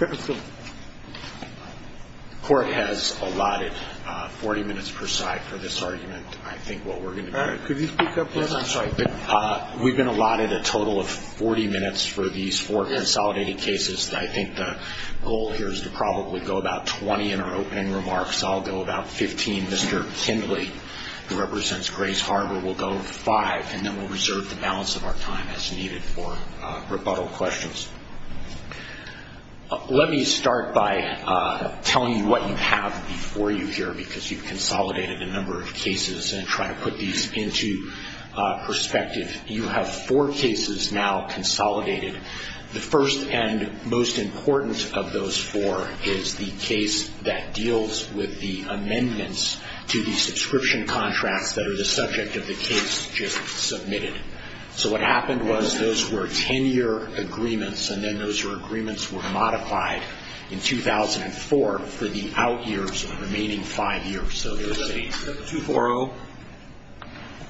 The court has allotted 40 minutes per side for this argument. I think what we're going to do, we've been allotted a total of 40 minutes for these four consolidated cases. I think the goal here is to probably go about 20 in our opening remarks. I'll go about 15. Mr. Kindley, who represents Grace Harbor, will go five, and then we'll reserve the balance of our time as needed for rebuttal questions. Let me start by telling you what you have before you here, because you've consolidated a number of cases and try to put these into perspective. You have four cases now consolidated. The first and most important of those four is the case that deals with the amendments to the subscription contracts that are the subject of the case just submitted. So what happened was those were 10-year agreements, and then those agreements were modified in 2004 for the out years of the remaining five years. So there's a 2-4-0.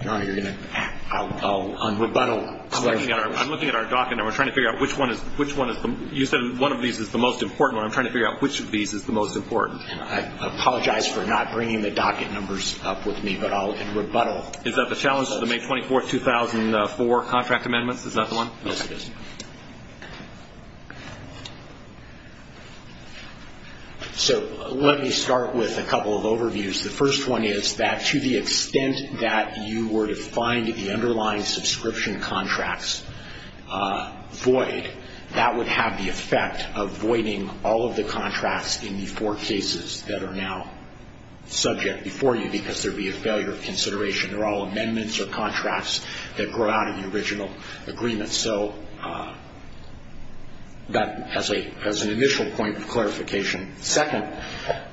I'm looking at our docket number, trying to figure out which one is the most important. I apologize for not bringing the docket numbers up with me, but I'll rebuttal. Is that the challenge to the May 24, 2004 contract amendments? Is that the one? Yes, it is. Let me start with a couple of overviews. The first one is that to the extent that you were to find the underlying subscription contracts void, that would have the effect of voiding all of the contracts in the four cases that are now subject before you, because there would be a failure of consideration. They're all amendments or contracts that grow out of the original agreement. So that's an initial point of clarification. Second,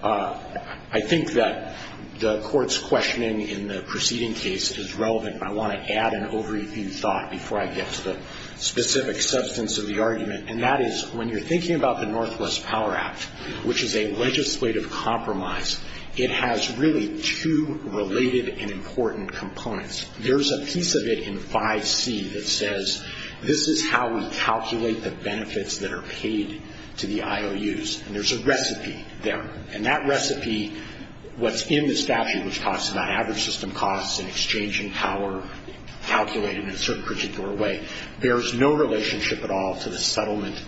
I think that the Court's questioning in the preceding case is relevant. I want to add an overview thought before I get to the specific substance of the argument, and that is when you're thinking about the Northwest Power Act, which is a legislative compromise, it has really two related and important components. There's a piece of it in 5C that says this is how we calculate the benefits that are paid to the IOUs, and there's a recipe there. And that recipe, what's in the statute, which talks about average system costs and exchange in power calculated in a certain particular way, bears no relationship at all to the settlement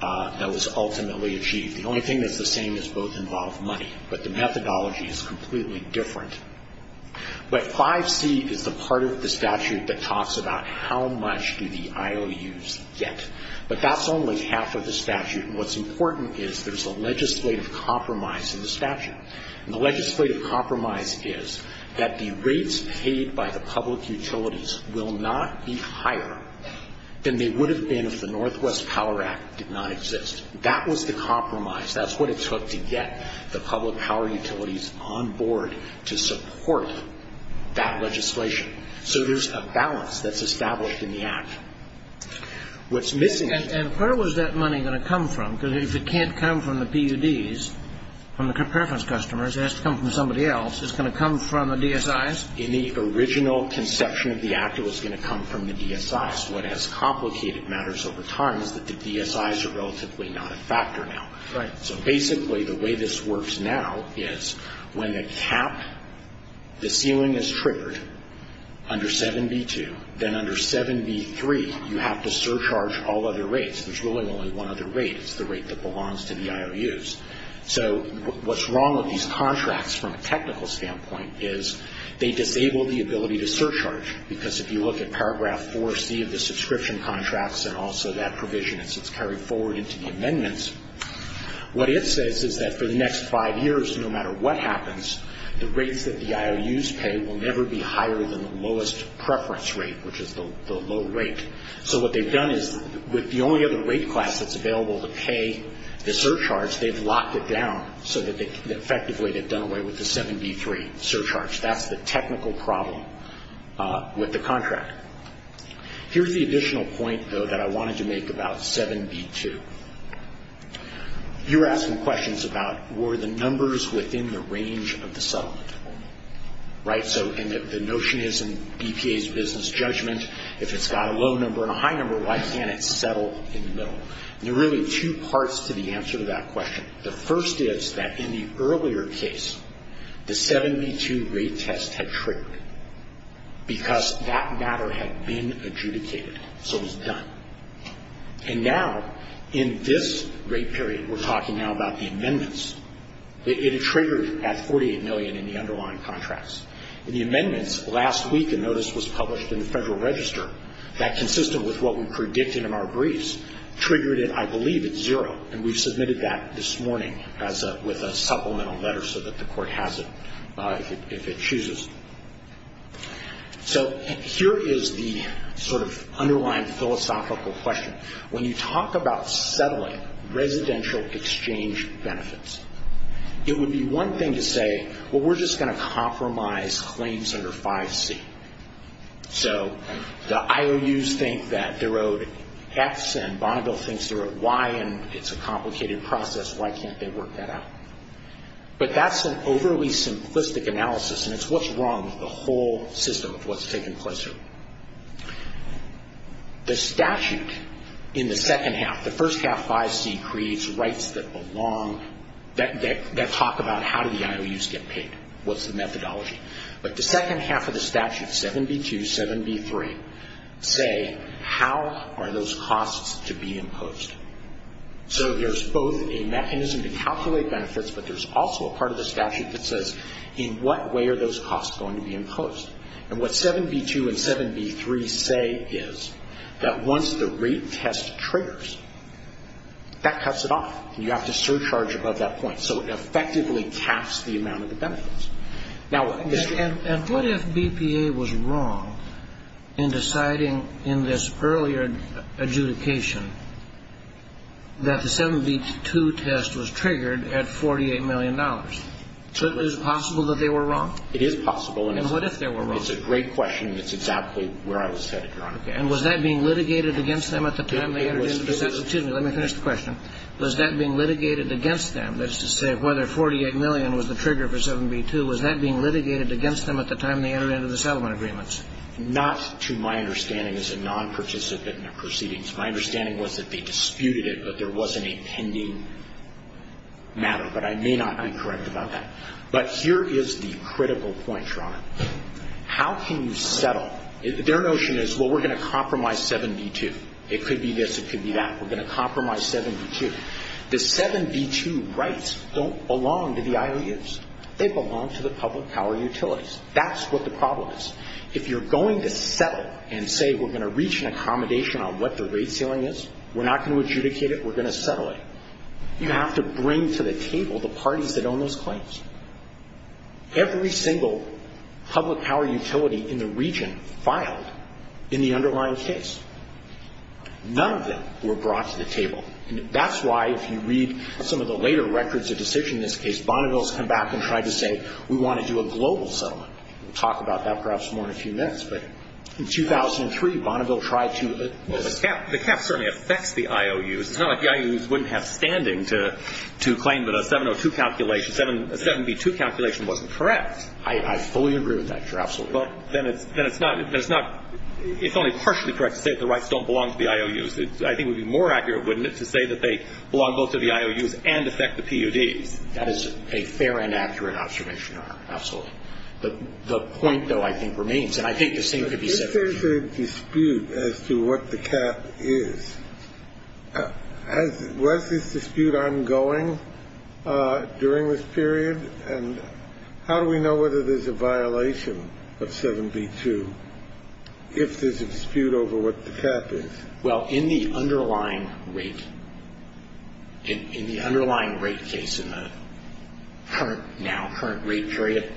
that was ultimately achieved. The only thing that's the same is both involve money, but the methodology is completely different. But 5C is the part of the statute that talks about how much do the IOUs get. But that's only half of the statute, and what's important is there's a legislative compromise in the statute. And the legislative compromise is that the rates paid by the public utilities will not be higher than they would have been if the Northwest Power Act did not exist. That was the compromise. That's what it took to get the public power utilities on board to support that legislation. So there's a balance that's established in the Act. And where was that money going to come from? Because if it can't come from the PUDs, from the preference customers, it has to come from somebody else. Is it going to come from the DSIs? In the original conception of the Act, it was going to come from the DSIs. What has complicated matters over time is that the DSIs are relatively not a factor now. So basically, the way this works now is when the cap, the ceiling is triggered under 7B2, then under 7B3, you have to surcharge all other rates. There's really only one other rate. It's the rate that belongs to the IOUs. So what's wrong with these contracts from a technical standpoint is they disable the ability to surcharge. Because if you look at paragraph 4C of the subscription contracts and also that provision as it's carried forward into the amendments, what it says is that for the next five years, no matter what happens, the rates that the IOUs pay will never be higher than the lowest preference rate, which is the low rate. So what they've done is with the only other rate class that's available to pay the surcharge, they've locked it down so that effectively they've done away with the 7B3 surcharge. That's the technical problem with the contract. Here's the additional point, though, that I wanted to make about 7B2. You were asking questions about were the numbers within the range of the settlement. Right? So the notion is in BPA's business judgment, if it's got a low number and a high number, why can't it settle in the middle? And there are really two parts to the answer to that question. The first is that in the earlier case, the 7B2 rate test had triggered because that matter had been adjudicated. So it was done. And now in this rate period, we're talking now about the amendments, it triggered at 48 million in the underlying contracts. In the amendments, last week a notice was published in the Federal Register that, consistent with what we predicted in our briefs, triggered at, I believe, at zero. And we've submitted that this morning with a supplemental letter so that the Court has it if it chooses. So here is the sort of underlying philosophical question. When you talk about settling residential exchange benefits, it would be one thing to say, well, we're just going to compromise claims under 5C. So the IOUs think that they're owed X and Bonneville thinks they're owed Y and it's a complicated process. Why can't they work that out? But that's an overly simplistic analysis and it's what's wrong with the whole system of what's taken place here. The statute in the second half, the first half, 5C, creates rights that belong, that talk about how do the IOUs get paid, what's the methodology. But the second half of the statute, 7B2, 7B3, say how are those costs to be imposed. So there's both a mechanism to calculate benefits, but there's also a part of the statute that says in what way are those costs going to be imposed. And what 7B2 and 7B3 say is that once the rate test triggers, that cuts it off. And what if BPA was wrong in deciding in this earlier adjudication that the 7B2 test was triggered at $48 million? Is it possible that they were wrong? It is possible. And what if they were wrong? It's a great question and it's exactly where I was headed, Your Honor. And was that being litigated against them at the time they entered into the settlement? Excuse me, let me finish the question. Was that being litigated against them, that is to say whether $48 million was the trigger for 7B2, was that being litigated against them at the time they entered into the settlement agreements? Not to my understanding as a non-participant in the proceedings. My understanding was that they disputed it, but there wasn't a pending matter. But I may not be correct about that. But here is the critical point, Your Honor. How can you settle? Their notion is, well, we're going to compromise 7B2. It could be this, it could be that. We're going to compromise 7B2. The 7B2 rights don't belong to the IOUs. They belong to the public power utilities. That's what the problem is. If you're going to settle and say we're going to reach an accommodation on what the rate ceiling is, we're not going to adjudicate it, we're going to settle it, you have to bring to the table the parties that own those claims. Every single public power utility in the region filed in the underlying case. None of them were brought to the table. That's why if you read some of the later records of decision in this case, Bonneville has come back and tried to say we want to do a global settlement. We'll talk about that perhaps more in a few minutes. But in 2003, Bonneville tried to... The cap certainly affects the IOUs. It's not like the IOUs wouldn't have standing to claim that a 702 calculation, a 7B2 calculation wasn't correct. I fully agree with that, Your Honor. Absolutely. Well, then it's not, it's only partially correct to say that the rights don't belong to the IOUs. I think it would be more accurate, wouldn't it, to say that they belong both to the IOUs and affect the PUDs? That is a fair and accurate observation, Your Honor. Absolutely. The point, though, I think remains, and I think this thing could be settled. There is a dispute as to what the cap is. Was this dispute ongoing during this period? And how do we know whether there's a violation of 7B2 if there's a dispute over what the cap is? Well, in the underlying rate, in the underlying rate case in the current, now current rate period,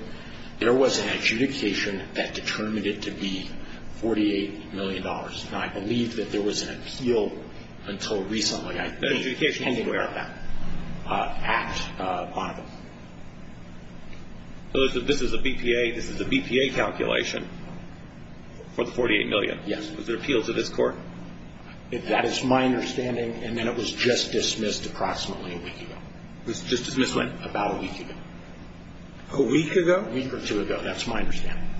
there was an adjudication that determined it to be $48 million. And I believe that there was an appeal until recently. An adjudication? I think we're aware of that at Bonneville. So this is a BPA, this is a BPA calculation for the $48 million? Yes. Was there an appeal to this court? That is my understanding. And then it was just dismissed approximately a week ago. It was just dismissed when? About a week ago. A week ago? A week or two ago. That's my understanding.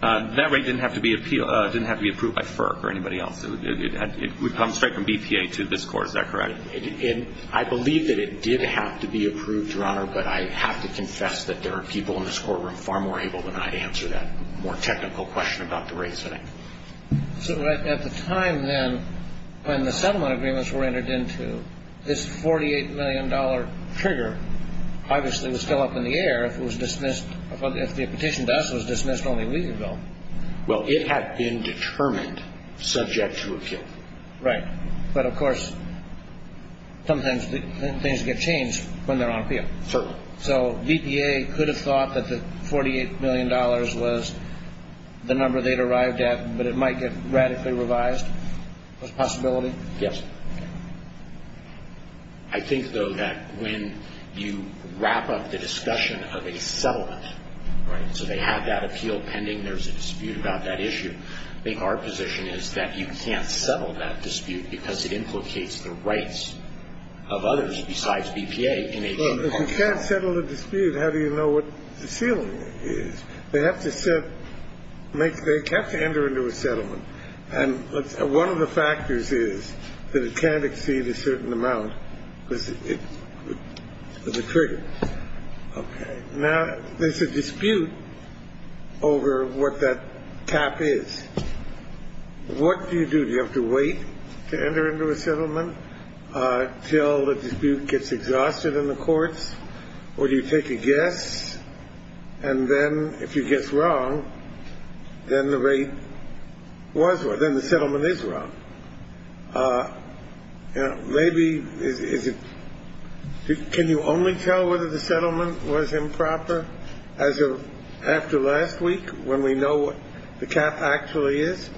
That rate didn't have to be approved by FERC or anybody else. It would come straight from BPA to this court. Is that correct? I believe that it did have to be approved, Your Honor, but I have to confess that there are people in this courtroom far more able than I to answer that more technical question about the rate setting. So at the time then when the settlement agreements were entered into, this $48 million trigger obviously was still up in the air if it was dismissed, if the petition to us was dismissed only a week ago. Well, it had been determined subject to appeal. Right. But, of course, sometimes things get changed when they're on appeal. Certainly. So BPA could have thought that the $48 million was the number they'd arrived at, but it might get radically revised as a possibility? Yes. I think, though, that when you wrap up the discussion of a settlement, right, so they have that appeal pending, there's a dispute about that issue, I think our position is that you can't settle that dispute because it implicates the rights of others besides BPA. Well, if you can't settle a dispute, how do you know what the ceiling is? They have to set – they have to enter into a settlement. And one of the factors is that it can't exceed a certain amount because it's a trigger. Okay. Now, there's a dispute over what that cap is. What do you do? Do you have to wait to enter into a settlement till the dispute gets exhausted in the courts? Or do you take a guess? And then if you guess wrong, then the rate was – then the settlement is wrong. Maybe is it – can you only tell whether the settlement was improper after last week when we know what the cap actually is?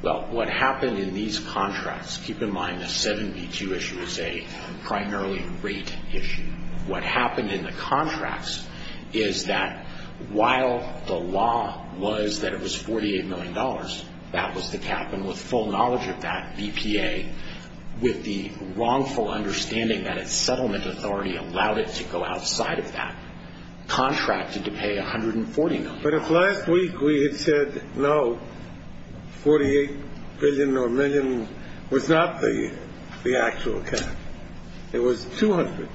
Well, what happened in these contracts – keep in mind the 7B2 issue is a primarily rate issue. What happened in the contracts is that while the law was that it was $48 million, that was the cap. And with full knowledge of that, BPA, with the wrongful understanding that its settlement authority allowed it to go outside of that, contracted to pay $140 million. But if last week we had said, no, $48 billion or a million was not the actual cap, it was $200,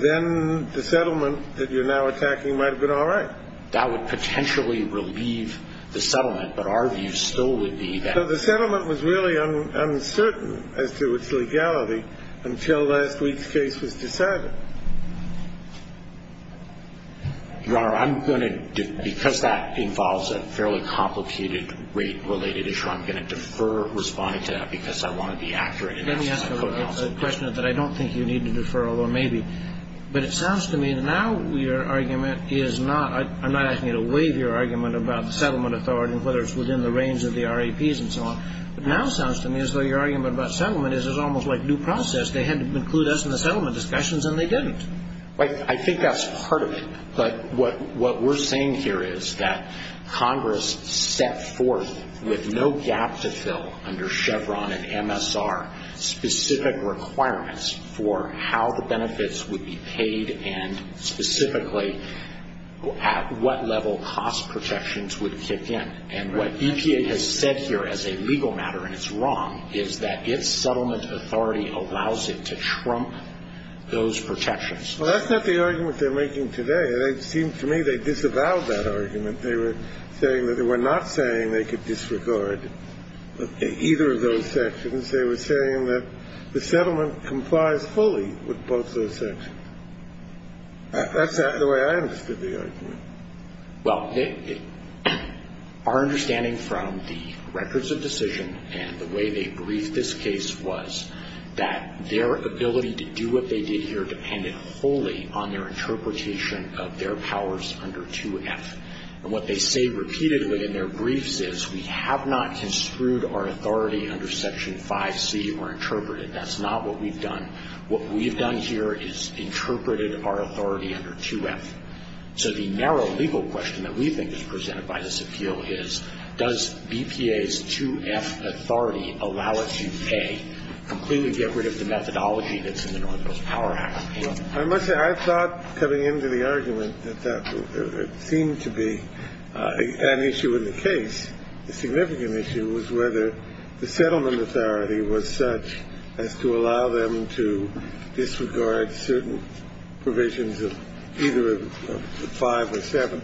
then the settlement that you're now attacking might have been all right. That would potentially relieve the settlement. But our view still would be that – So the settlement was really uncertain as to its legality until last week's case was decided. Your Honor, I'm going to – because that involves a fairly complicated rate-related issue, I'm going to defer responding to that because I want to be accurate. Let me ask a question that I don't think you need to defer, although maybe. But it sounds to me that now your argument is not – I'm not asking you to waive your argument about the settlement authority and whether it's within the range of the RAPs and so on. But now it sounds to me as though your argument about settlement is it's almost like due process. They had to include us in the settlement discussions, and they didn't. I think that's part of it. But what we're saying here is that Congress set forth with no gap to fill under Chevron and MSR specific requirements for how the benefits would be paid and specifically at what level cost protections would kick in. And what EPA has said here as a legal matter, and it's wrong, is that its settlement authority allows it to trump those protections. Well, that's not the argument they're making today. It seems to me they disavowed that argument. They were saying that they were not saying they could disregard either of those sections. They were saying that the settlement complies fully with both those sections. That's not the way I understood the argument. Well, our understanding from the records of decision and the way they briefed this case was that their ability to do what they did here depended wholly on their interpretation of their powers under 2F. And what they say repeatedly in their briefs is we have not construed our authority under Section 5C or interpreted. That's not what we've done. What we've done here is interpreted our authority under 2F. So the narrow legal question that we think is presented by this appeal is, does BPA's 2F authority allow it to, A, completely get rid of the methodology that's in the Northwest Power Act? I must say, I thought coming into the argument that that seemed to be an issue in the case. The significant issue was whether the settlement authority was such as to allow them to disregard certain provisions of either of the five or seven.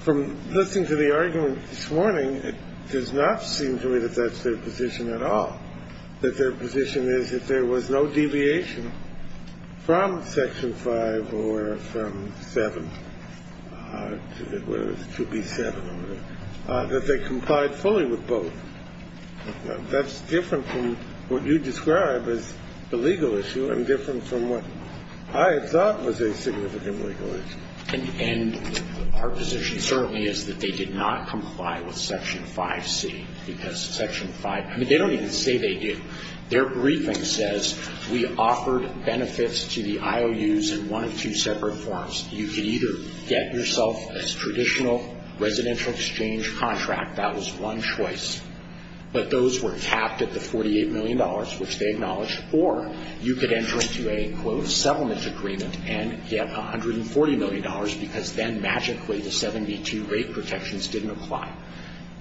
From listening to the argument this morning, it does not seem to me that that's their position at all, that their position is if there was no deviation from Section 5 or from 7, whether it's 2B7 or whatever, that they complied fully with both. That's different from what you describe as the legal issue and different from what I had thought was a significant legal issue. And our position certainly is that they did not comply with Section 5C because Section 5, I mean, they don't even say they do. Their briefing says we offered benefits to the IOUs in one of two separate forms. You could either get yourself a traditional residential exchange contract. That was one choice. But those were capped at the $48 million, which they acknowledged, or you could enter into a, quote, settlement agreement and get $140 million because then magically the 72 rate protections didn't apply.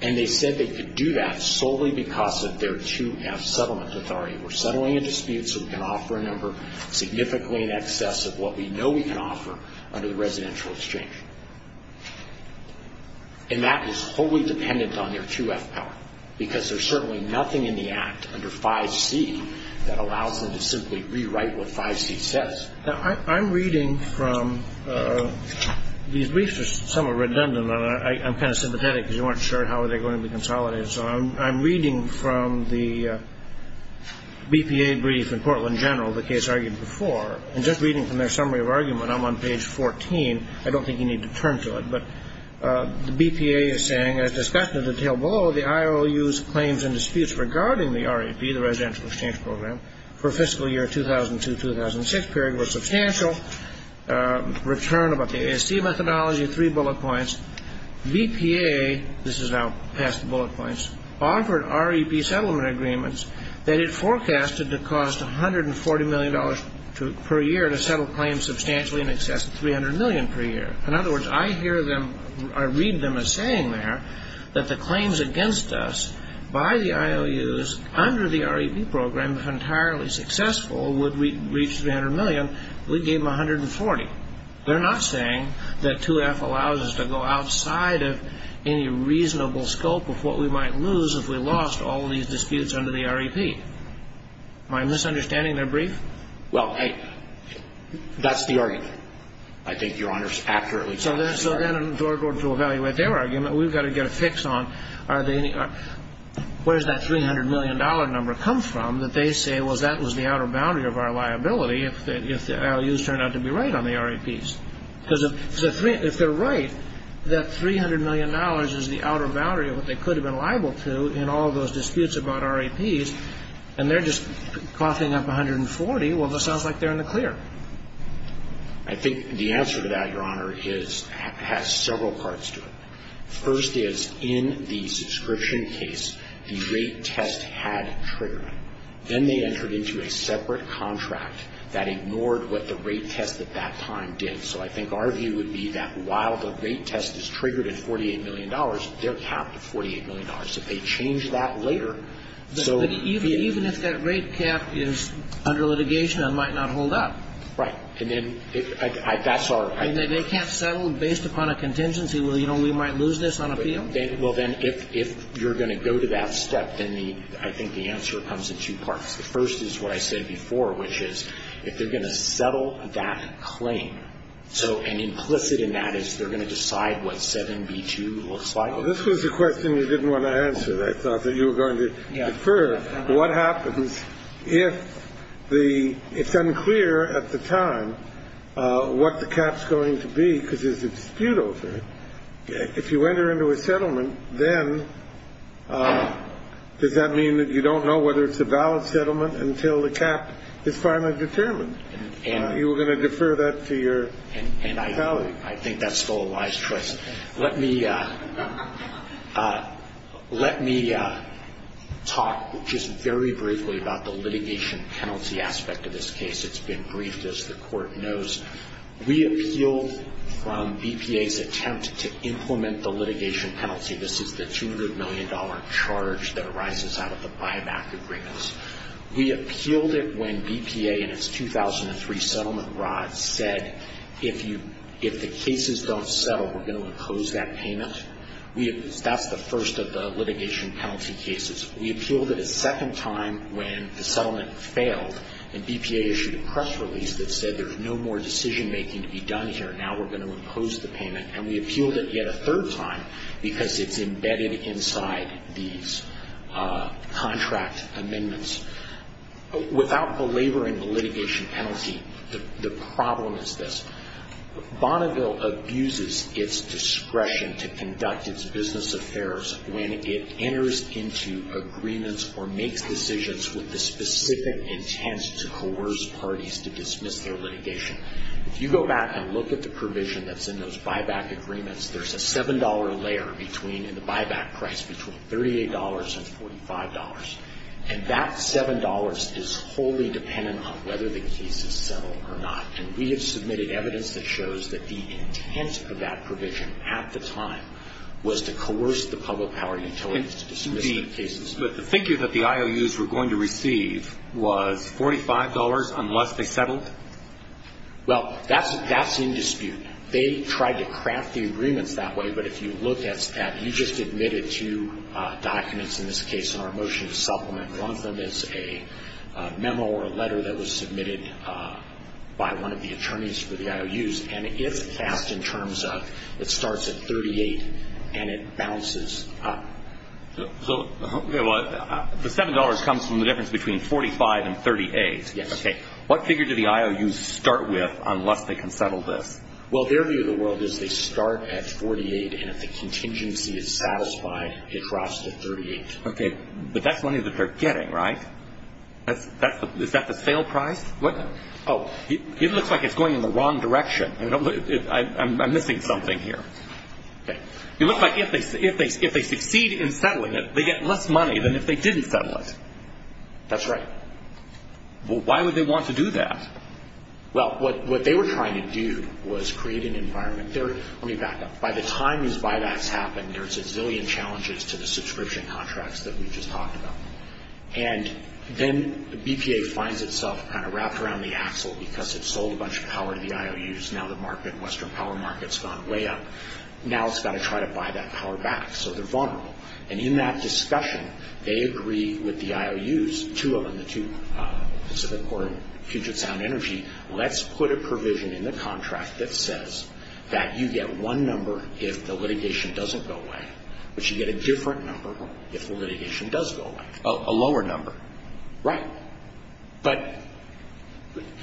And they said they could do that solely because of their 2F settlement authority. We're settling a dispute so we can offer a number significantly in excess of what we know we can offer under the residential exchange. And that is wholly dependent on their 2F power because there's certainly nothing in the Act under 5C that allows them to simply rewrite what 5C says. Now, I'm reading from these briefs which are somewhat redundant. I'm kind of sympathetic because you weren't sure how they're going to be consolidated. So I'm reading from the BPA brief in Portland General, the case argued before, and just reading from their summary of argument, I'm on page 14. I don't think you need to turn to it. But the BPA is saying, as discussed in the detail below, the IOUs claims and disputes regarding the RAP, the residential exchange program, for fiscal year 2002-2006 period were substantial, return about the ASC methodology, three bullet points. BPA, this is now past the bullet points, offered RAP settlement agreements that it forecasted to cost $140 million per year to settle claims substantially in excess of $300 million per year. In other words, I hear them, I read them as saying there that the claims against us by the IOUs under the RAP program, if entirely successful, would reach $300 million. We gave them $140. They're not saying that 2F allows us to go outside of any reasonable scope of what we might lose if we lost all of these disputes under the RAP. Am I misunderstanding their brief? Well, hey, that's the argument. I think Your Honor's accurately told us the argument. So then in order to evaluate their argument, we've got to get a fix on, where does that $300 million number come from that they say, well, that was the outer boundary of our liability if the IOUs turned out to be right on the RAPs? Because if they're right, that $300 million is the outer boundary of what they could have been liable to in all of those disputes about RAPs, and they're just coughing up $140. Well, it sounds like they're in the clear. I think the answer to that, Your Honor, has several parts to it. First is, in the subscription case, the rate test had triggered. Then they entered into a separate contract that ignored what the rate test at that time did. So I think our view would be that while the rate test is triggered at $48 million, they're capped at $48 million. If they change that later, so the ---- But even if that rate cap is under litigation, it might not hold up. Right. And then that's our ---- They can't settle based upon a contingency. Well, you know, we might lose this on appeal. Well, then, if you're going to go to that step, then I think the answer comes in two parts. The first is what I said before, which is if they're going to settle that claim, so and implicit in that is they're going to decide what 7B2 looks like. This was a question you didn't want to answer. I thought that you were going to defer. What happens if the ---- It's unclear at the time what the cap's going to be because there's a dispute over it. If you enter into a settlement, then does that mean that you don't know whether it's a valid settlement until the cap is finally determined? You were going to defer that to your colleague. And I think that's still a wise choice. Let me talk just very briefly about the litigation penalty aspect of this case. It's been briefed, as the Court knows. We appealed from BPA's attempt to implement the litigation penalty. This is the $200 million charge that arises out of the buyback agreements. We appealed it when BPA in its 2003 settlement rod said if the cases don't settle, we're going to impose that payment. That's the first of the litigation penalty cases. We appealed it a second time when the settlement failed, and BPA issued a press release that said there's no more decision-making to be done here. Now we're going to impose the payment. And we appealed it yet a third time because it's embedded inside these contract amendments. Without belaboring the litigation penalty, the problem is this. Bonneville abuses its discretion to conduct its business affairs when it enters into agreements or makes decisions with the specific intent to coerce parties to dismiss their litigation. If you go back and look at the provision that's in those buyback agreements, there's a $7 layer in the buyback price between $38 and $45. And that $7 is wholly dependent on whether the cases settle or not. And we have submitted evidence that shows that the intent of that provision at the time was to coerce the public power utilities to dismiss the cases. But the figure that the IOUs were going to receive was $45 unless they settled? Well, that's in dispute. They tried to craft the agreements that way. But if you look at that, you just admitted two documents in this case in our motion to supplement. One of them is a memo or a letter that was submitted by one of the attorneys for the IOUs. And it's fast in terms of it starts at $38 and it bounces up. So the $7 comes from the difference between $45 and $38. Yes. Okay. What figure do the IOUs start with unless they can settle this? Well, their view of the world is they start at $48, and if the contingency is satisfied, it drops to $38. Okay. But that's money that they're getting, right? Is that the sale price? Oh, it looks like it's going in the wrong direction. I'm missing something here. Okay. It looks like if they succeed in settling it, they get less money than if they didn't settle it. That's right. Well, why would they want to do that? Well, what they were trying to do was create an environment. Let me back up. By the time these buybacks happen, there's a zillion challenges to the subscription contracts that we just talked about. And then the BPA finds itself kind of wrapped around the axle because it sold a bunch of power to the IOUs. Now the Western power market's gone way up. Now it's got to try to buy that power back. So they're vulnerable. And in that discussion, they agree with the IOUs, two of them, the two Pacific Corp and Puget Sound Energy, let's put a provision in the contract that says that you get one number if the litigation doesn't go away, but you get a different number if the litigation does go away, a lower number. Right. But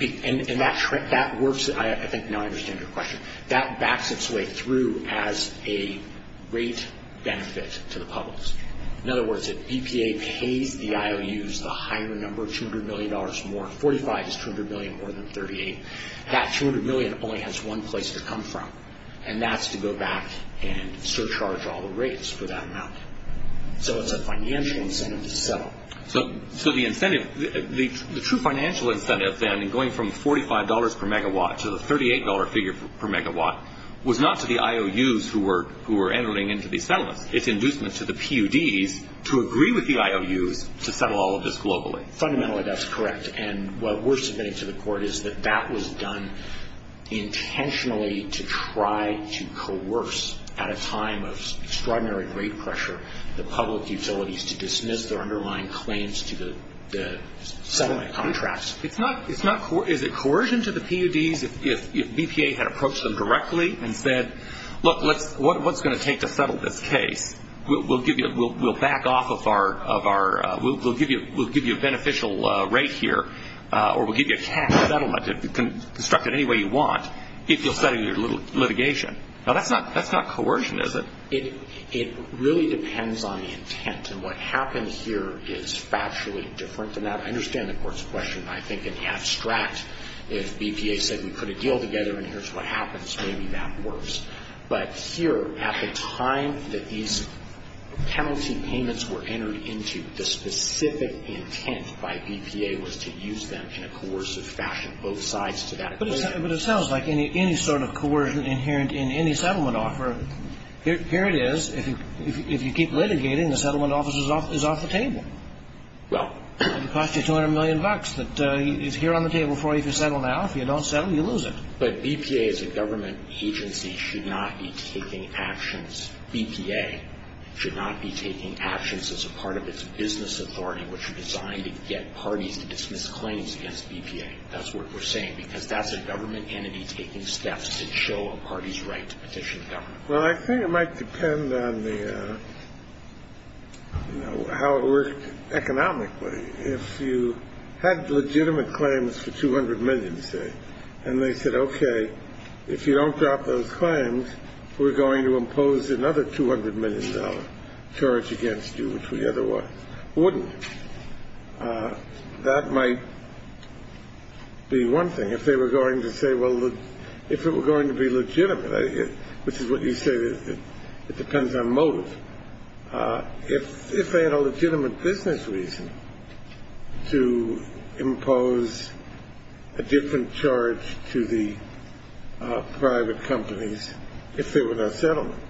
that works. I think now I understand your question. That backs its way through as a rate benefit to the public. In other words, if BPA pays the IOUs a higher number, $200 million more, 45 is $200 million more than 38, that $200 million only has one place to come from, and that's to go back and surcharge all the rates for that amount. So it's a financial incentive to settle. So the incentive, the true financial incentive then in going from $45 per megawatt to the $38 figure per megawatt was not to the IOUs who were entering into these settlements. It's inducement to the PUDs to agree with the IOUs to settle all of this globally. Fundamentally, that's correct. And what we're submitting to the court is that that was done intentionally to try to coerce, at a time of extraordinary rate pressure, the public utilities to dismiss their underlying claims to the settlement contracts. Is it coercion to the PUDs if BPA had approached them directly and said, look, what's it going to take to settle this case? We'll back off of our – we'll give you a beneficial rate here, or we'll give you a cash settlement to construct it any way you want if you'll settle your litigation. Now, that's not coercion, is it? It really depends on the intent. And what happens here is factually different than that. I understand the court's question. I think in the abstract, if BPA said we put a deal together and here's what happens, maybe that works. But here, at the time that these penalty payments were entered into, the specific intent by BPA was to use them in a coercive fashion, both sides to that agreement. But it sounds like any sort of coercion inherent in any settlement offer, here it is, if you keep litigating, the settlement office is off the table. Well. It'll cost you 200 million bucks that is here on the table for you to settle now. If you don't settle, you lose it. But BPA as a government agency should not be taking actions. BPA should not be taking actions as a part of its business authority, which is designed to get parties to dismiss claims against BPA. That's what we're saying. Because that's a government entity taking steps to show a party's right to petition government. Well, I think it might depend on the, you know, how it worked economically. If you had legitimate claims for 200 million, say, and they said, okay, if you don't drop those claims, we're going to impose another $200 million charge against you, which we otherwise wouldn't. That might be one thing. If they were going to say, well, if it were going to be legitimate, which is what you say, it depends on motive. If they had a legitimate business reason to impose a different charge to the private companies, if there were no settlement,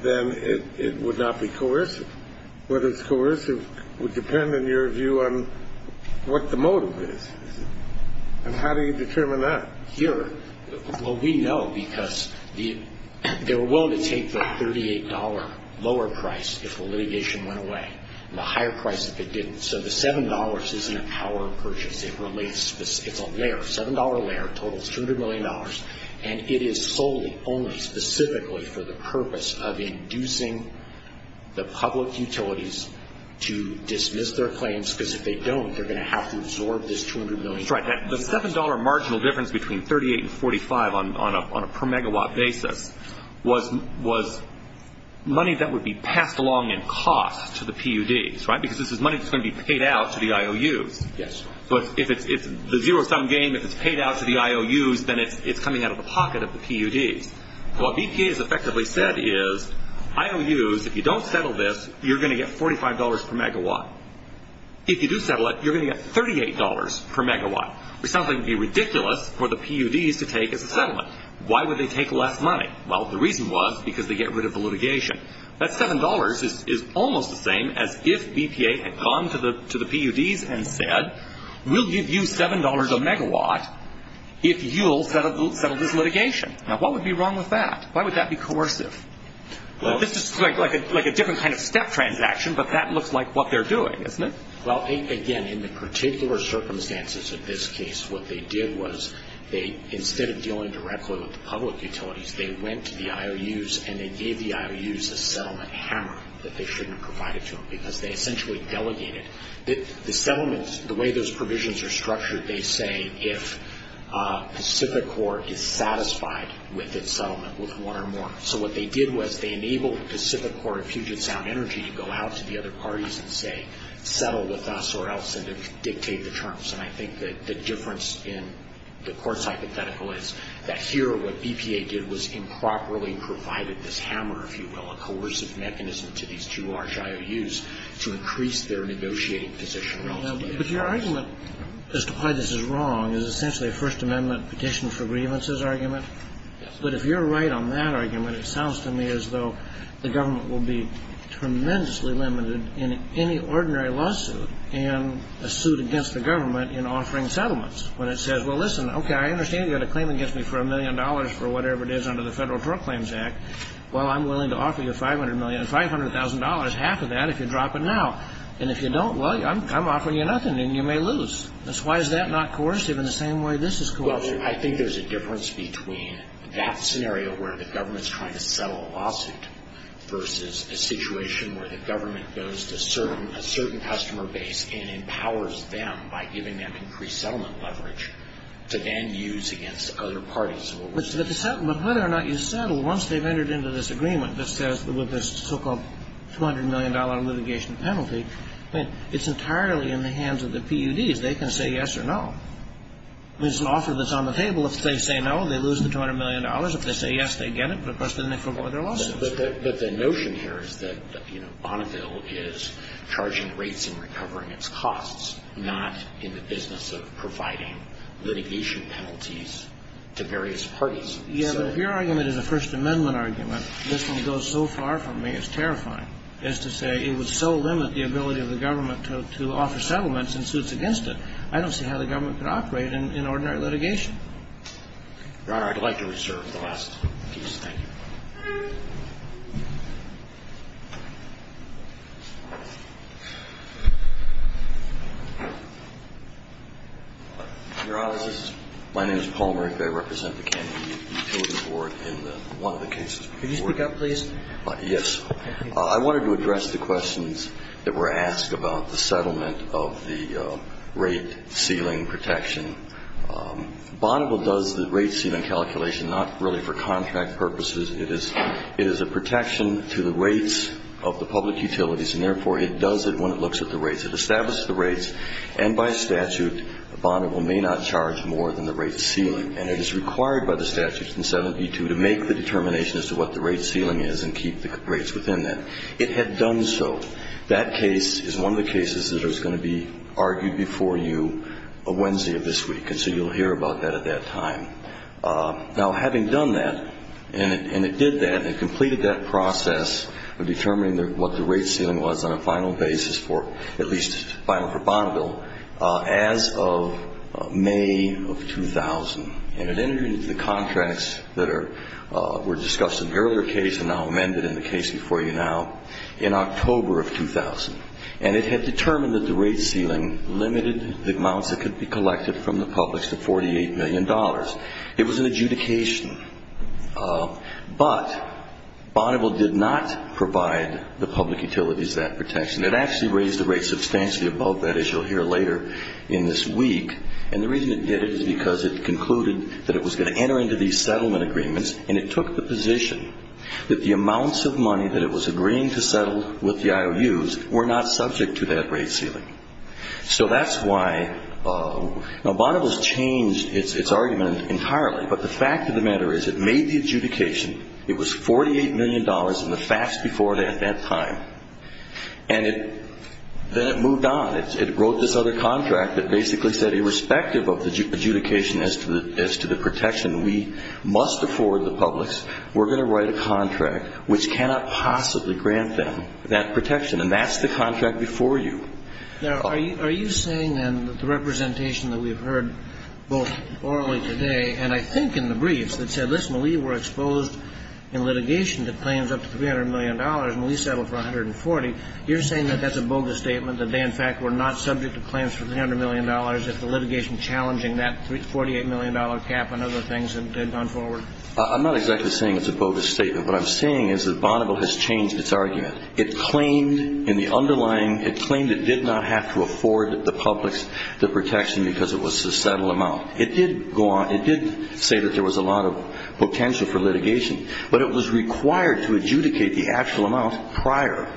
then it would not be coercive. Whether it's coercive would depend, in your view, on what the motive is. And how do you determine that? Well, we know because they were willing to take the $38 lower price if the litigation went away, and the higher price if it didn't. So the $7 isn't a power purchase. It's a layer. It totals $200 million, and it is solely, only, specifically for the purpose of inducing the public utilities to dismiss their claims, because if they don't, they're going to have to absorb this $200 million. Right. The $7 marginal difference between $38 and $45 on a per-megawatt basis was money that would be passed along in cost to the PUDs, right? Because this is money that's going to be paid out to the IOUs. Yes. But if it's the zero-sum game, if it's paid out to the IOUs, then it's coming out of the pocket of the PUDs. What BPA has effectively said is, IOUs, if you don't settle this, you're going to get $45 per megawatt. If you do settle it, you're going to get $38 per megawatt, which sounds like it would be ridiculous for the PUDs to take as a settlement. Why would they take less money? Well, the reason was because they get rid of the litigation. That $7 is almost the same as if BPA had gone to the PUDs and said, we'll give you $7 a megawatt if you'll settle this litigation. Now, what would be wrong with that? Why would that be coercive? This is like a different kind of step transaction, but that looks like what they're doing, doesn't it? Well, again, in the particular circumstances of this case, what they did was, instead of dealing directly with the public utilities, they went to the IOUs and they gave the IOUs a settlement hammer that they shouldn't provide it to them because they essentially delegated. The settlements, the way those provisions are structured, they say if Pacific Corp. is satisfied with its settlement with one or more. So what they did was they enabled Pacific Corp. and Puget Sound Energy to go out to the other parties and say, settle with us or else, and dictate the terms. And I think that the difference in the court's hypothetical is that here, what BPA did was improperly provided this hammer, if you will, a coercive mechanism to these two large IOUs to increase their negotiating position relatively. But your argument as to why this is wrong is essentially a First Amendment petition for grievances argument. Yes. But if you're right on that argument, it sounds to me as though the government will be tremendously limited in any ordinary lawsuit and a suit against the government in offering settlements. When it says, well, listen, okay, I understand you're going to claim against me for a million dollars for whatever it is under the Federal Proclaims Act. Well, I'm willing to offer you $500,000, half of that if you drop it now. And if you don't, well, I'm offering you nothing and you may lose. Why is that not coercive in the same way this is coercive? Well, I think there's a difference between that scenario where the government's trying to settle a lawsuit versus a situation where the government goes to a certain customer base and empowers them by giving them increased settlement leverage to then use against other parties. But whether or not you settle, once they've entered into this agreement that says with this so-called $200 million litigation penalty, it's entirely in the hands of the PUDs. They can say yes or no. There's an offer that's on the table. If they say no, they lose the $200 million. If they say yes, they get it. But the notion here is that Bonneville is charging rates and recovering its costs, not in the business of providing litigation penalties to various parties. Yeah, but if your argument is a First Amendment argument, this one goes so far from me, it's terrifying, as to say it would so limit the ability of the government to offer settlements and suits against it. I don't see how the government could operate in ordinary litigation. Your Honor, I'd like to reserve the last piece. Thank you. Your Honor, my name is Paul Merrick. I represent the Kennedy Utilities Board in one of the cases. Could you speak up, please? Yes. I wanted to address the questions that were asked about the settlement of the rate ceiling protection. Bonneville does the rate ceiling calculation not really for contract purposes. It is a protection to the rates of the public utilities, and therefore it does it when it looks at the rates. It establishes the rates, and by statute, Bonneville may not charge more than the rate ceiling. And it is required by the statute in 7B2 to make the determination as to what the rate ceiling is and keep the rates within that. It had done so. That case is one of the cases that is going to be argued before you Wednesday of this week, and so you'll hear about that at that time. Now, having done that, and it did that, and it completed that process of determining what the rate ceiling was on a final basis for, at least final for Bonneville, as of May of 2000, and it entered into the contracts that were discussed in the earlier case and now amended in the case before you now. In October of 2000. And it had determined that the rate ceiling limited the amounts that could be collected from the public to $48 million. It was an adjudication. But Bonneville did not provide the public utilities that protection. It actually raised the rates substantially above that, as you'll hear later in this week. And the reason it did it is because it concluded that it was going to enter into these settlement agreements, and it took the position that the amounts of money that it was agreeing to settle with the IOUs were not subject to that rate ceiling. So that's why now Bonneville has changed its argument entirely, but the fact of the matter is it made the adjudication. It was $48 million in the facts before it at that time. And then it moved on. It wrote this other contract that basically said, irrespective of the adjudication as to the protection, we must afford the publics, we're going to write a contract which cannot possibly grant them that protection. And that's the contract before you. Now, are you saying then that the representation that we've heard both orally today and I think in the briefs that said, listen, we were exposed in litigation to claims up to $300 million and we settled for $140 million, you're saying that that's a bogus statement, that they in fact were not subject to claims for $300 million if the litigation challenging that $48 million cap and other things had gone forward? I'm not exactly saying it's a bogus statement. What I'm saying is that Bonneville has changed its argument. It claimed in the underlying, it claimed it did not have to afford the publics the protection because it was a settled amount. It did go on, it did say that there was a lot of potential for litigation, but it was required to adjudicate the actual amount prior.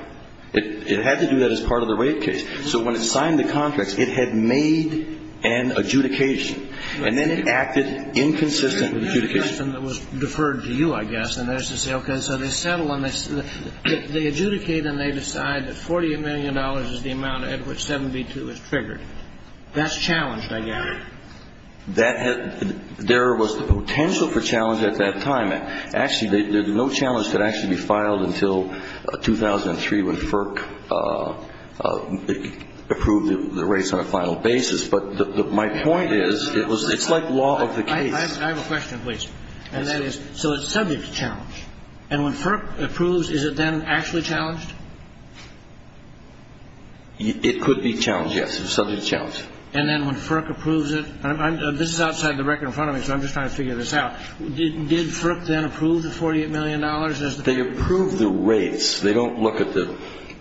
It had to do that as part of the rate case. So when it signed the contracts, it had made an adjudication. And then it acted inconsistent with the adjudication. The question that was deferred to you, I guess, and that is to say, okay, so they settle and they adjudicate and they decide that $48 million is the amount at which 72 is triggered. That's challenged, I gather. That has – there was the potential for challenge at that time. Actually, no challenge could actually be filed until 2003 when FERC approved the rates on a final basis. But my point is, it's like law of the case. I have a question, please. So it's subject to challenge. And when FERC approves, is it then actually challenged? It could be challenged, yes. It's subject to challenge. And then when FERC approves it – this is outside the record in front of me, so I'm just trying to figure this out. Did FERC then approve the $48 million? They approved the rates. They don't look at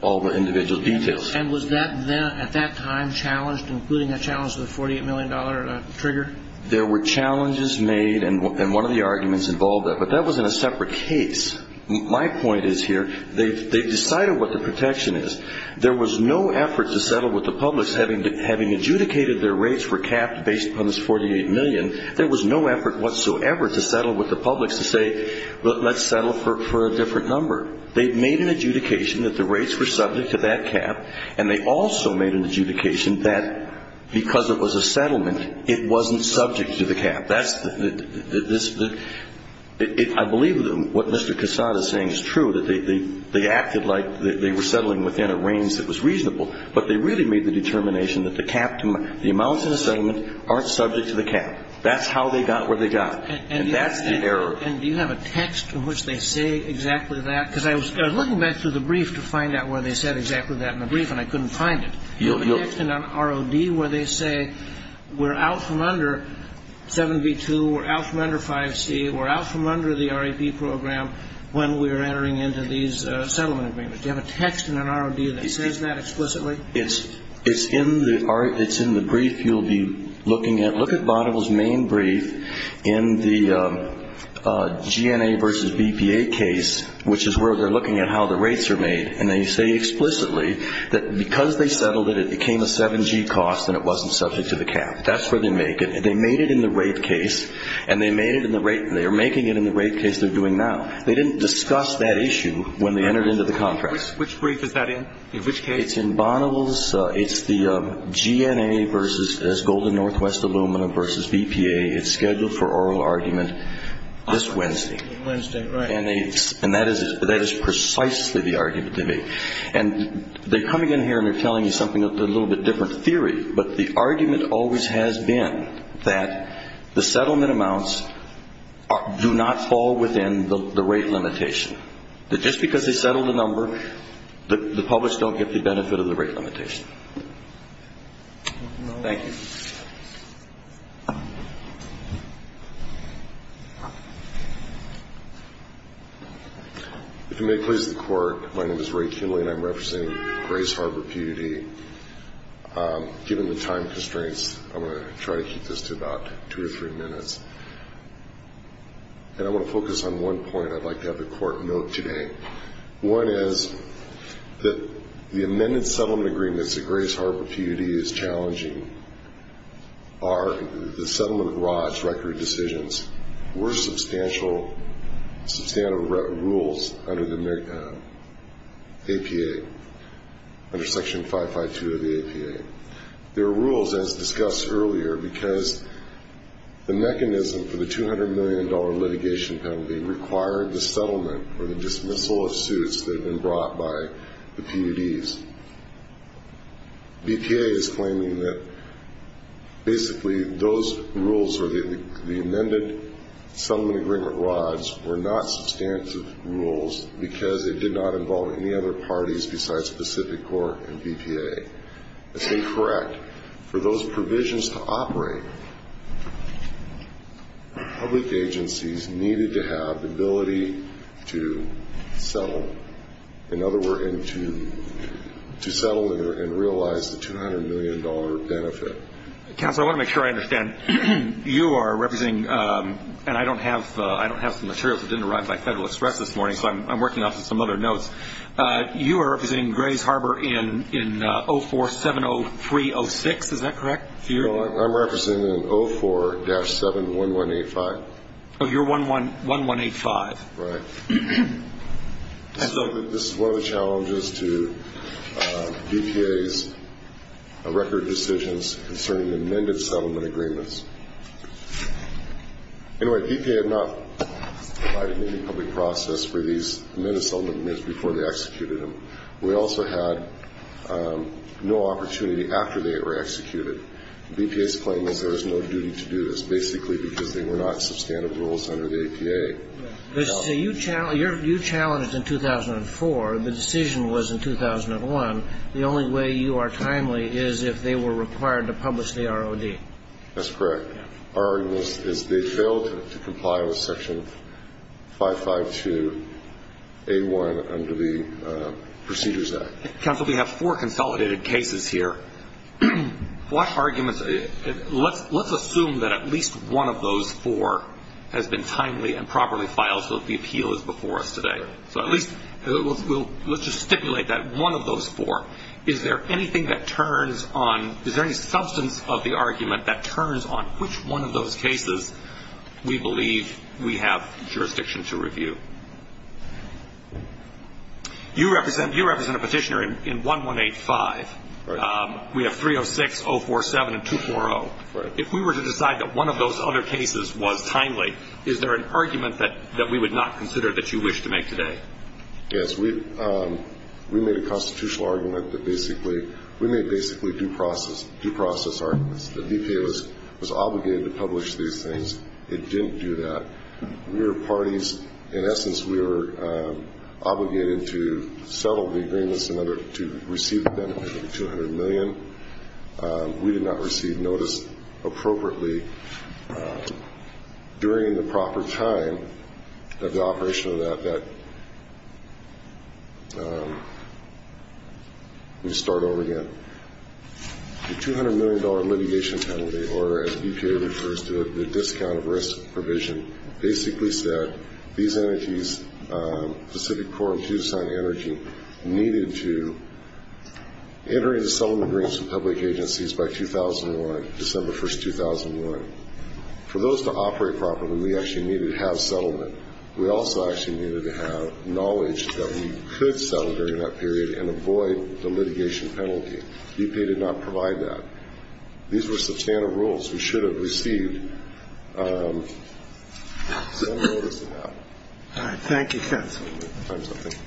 all the individual details. And was that then, at that time, challenged, including a challenge to the $48 million trigger? There were challenges made, and one of the arguments involved that. But that was in a separate case. My point is here, they decided what the protection is. There was no effort to settle with the publics, having adjudicated their rates were capped based upon this $48 million. There was no effort whatsoever to settle with the publics to say, let's settle for a different number. They made an adjudication that the rates were subject to that cap, and they also made an adjudication that because it was a settlement, it wasn't subject to the cap. That's the – I believe what Mr. Cassata is saying is true, that they acted like they were settling within a range that was reasonable, but they really made the determination that the cap – the amounts in the settlement aren't subject to the cap. That's how they got where they got. And that's the error. And do you have a text in which they say exactly that? Because I was looking back through the brief to find out where they said exactly that in the brief, and I couldn't find it. Do you have a text in an ROD where they say we're out from under 7b-2, we're out from under 5c, we're out from under the RAP program when we're entering into these settlement agreements? Do you have a text in an ROD that says that explicitly? It's in the – it's in the brief you'll be looking at. Look at Bonneville's main brief in the GNA versus BPA case, which is where they're looking at how the rates are made, and they say explicitly that because they settled it, it became a 7g cost and it wasn't subject to the cap. That's where they make it. They made it in the rate case, and they made it in the rate – they are making it in the rate case they're doing now. They didn't discuss that issue when they entered into the contract. Which brief is that in? In which case? It's in Bonneville's – it's the GNA versus – there's Golden Northwest Aluminum versus BPA. It's scheduled for oral argument this Wednesday. Wednesday, right. And that is precisely the argument they make. And they're coming in here and they're telling you something a little bit different theory, but the argument always has been that the settlement amounts do not fall within the rate limitation, that just because they settled the number, the published don't get the benefit of the rate limitation. Thank you. If you may please the court, my name is Ray Kimbley, and I'm representing Grace Harbor PUD. Given the time constraints, I'm going to try to keep this to about two or three minutes. And I want to focus on one point I'd like to have the court note today. One is that the amended settlement agreements that Grace Harbor PUD is challenging are the settlement of ROJ record decisions. There were substantial rules under the APA, under Section 552 of the APA. There were rules, as discussed earlier, because the mechanism for the $200 million litigation penalty required the settlement or the dismissal of suits that had been brought by the PUDs. BPA is claiming that basically those rules or the amended settlement agreement ROJ were not substantive rules because it did not involve any other parties besides Pacific Corp and BPA. That's incorrect. For those provisions to operate, public agencies needed to have the ability to settle, in other words, to settle and realize the $200 million benefit. Counsel, I want to make sure I understand. You are representing, and I don't have some materials that didn't arrive by Federal Express this morning, so I'm working off of some other notes. You are representing Grace Harbor in 0470306, is that correct? I'm representing in 04-71185. Oh, you're 11185. Right. This is one of the challenges to BPA's record decisions concerning the amended settlement agreements. Anyway, BPA had not provided any public process for these amended settlement agreements before they executed them. We also had no opportunity after they were executed. BPA's claim is there is no duty to do this, basically because they were not substantive rules under the APA. You challenged in 2004. The decision was in 2001. The only way you are timely is if they were required to publish the ROD. That's correct. Our argument is they failed to comply with Section 552A1 under the Procedures Act. Counsel, we have four consolidated cases here. Let's assume that at least one of those four has been timely and properly filed so that the appeal is before us today. So at least let's just stipulate that one of those four. Is there any substance of the argument that turns on which one of those cases we believe we have jurisdiction to review? You represent a petitioner in 1185. We have 306, 047, and 240. If we were to decide that one of those other cases was timely, is there an argument that we would not consider that you wish to make today? Yes. We made a constitutional argument that basically we made basically due process arguments. The BPA was obligated to publish these things. It didn't do that. We were parties. In essence, we were obligated to settle the agreements in order to receive the benefit of the $200 million. We did not receive notice appropriately during the proper time of the operation of that. Let me start over again. The $200 million litigation penalty order, as BPA refers to it, the discount of risk provision, basically said these energies, Pacific Core and Tucson Energy, needed to enter into settlement agreements with public agencies by 2001, December 1, 2001. For those to operate properly, we actually needed to have settlement. We also actually needed to have knowledge that we could settle during that period and avoid the litigation penalty. BPA did not provide that. These were substantive rules we should have received some notice about. All right. Thank you, counsel. Thank you.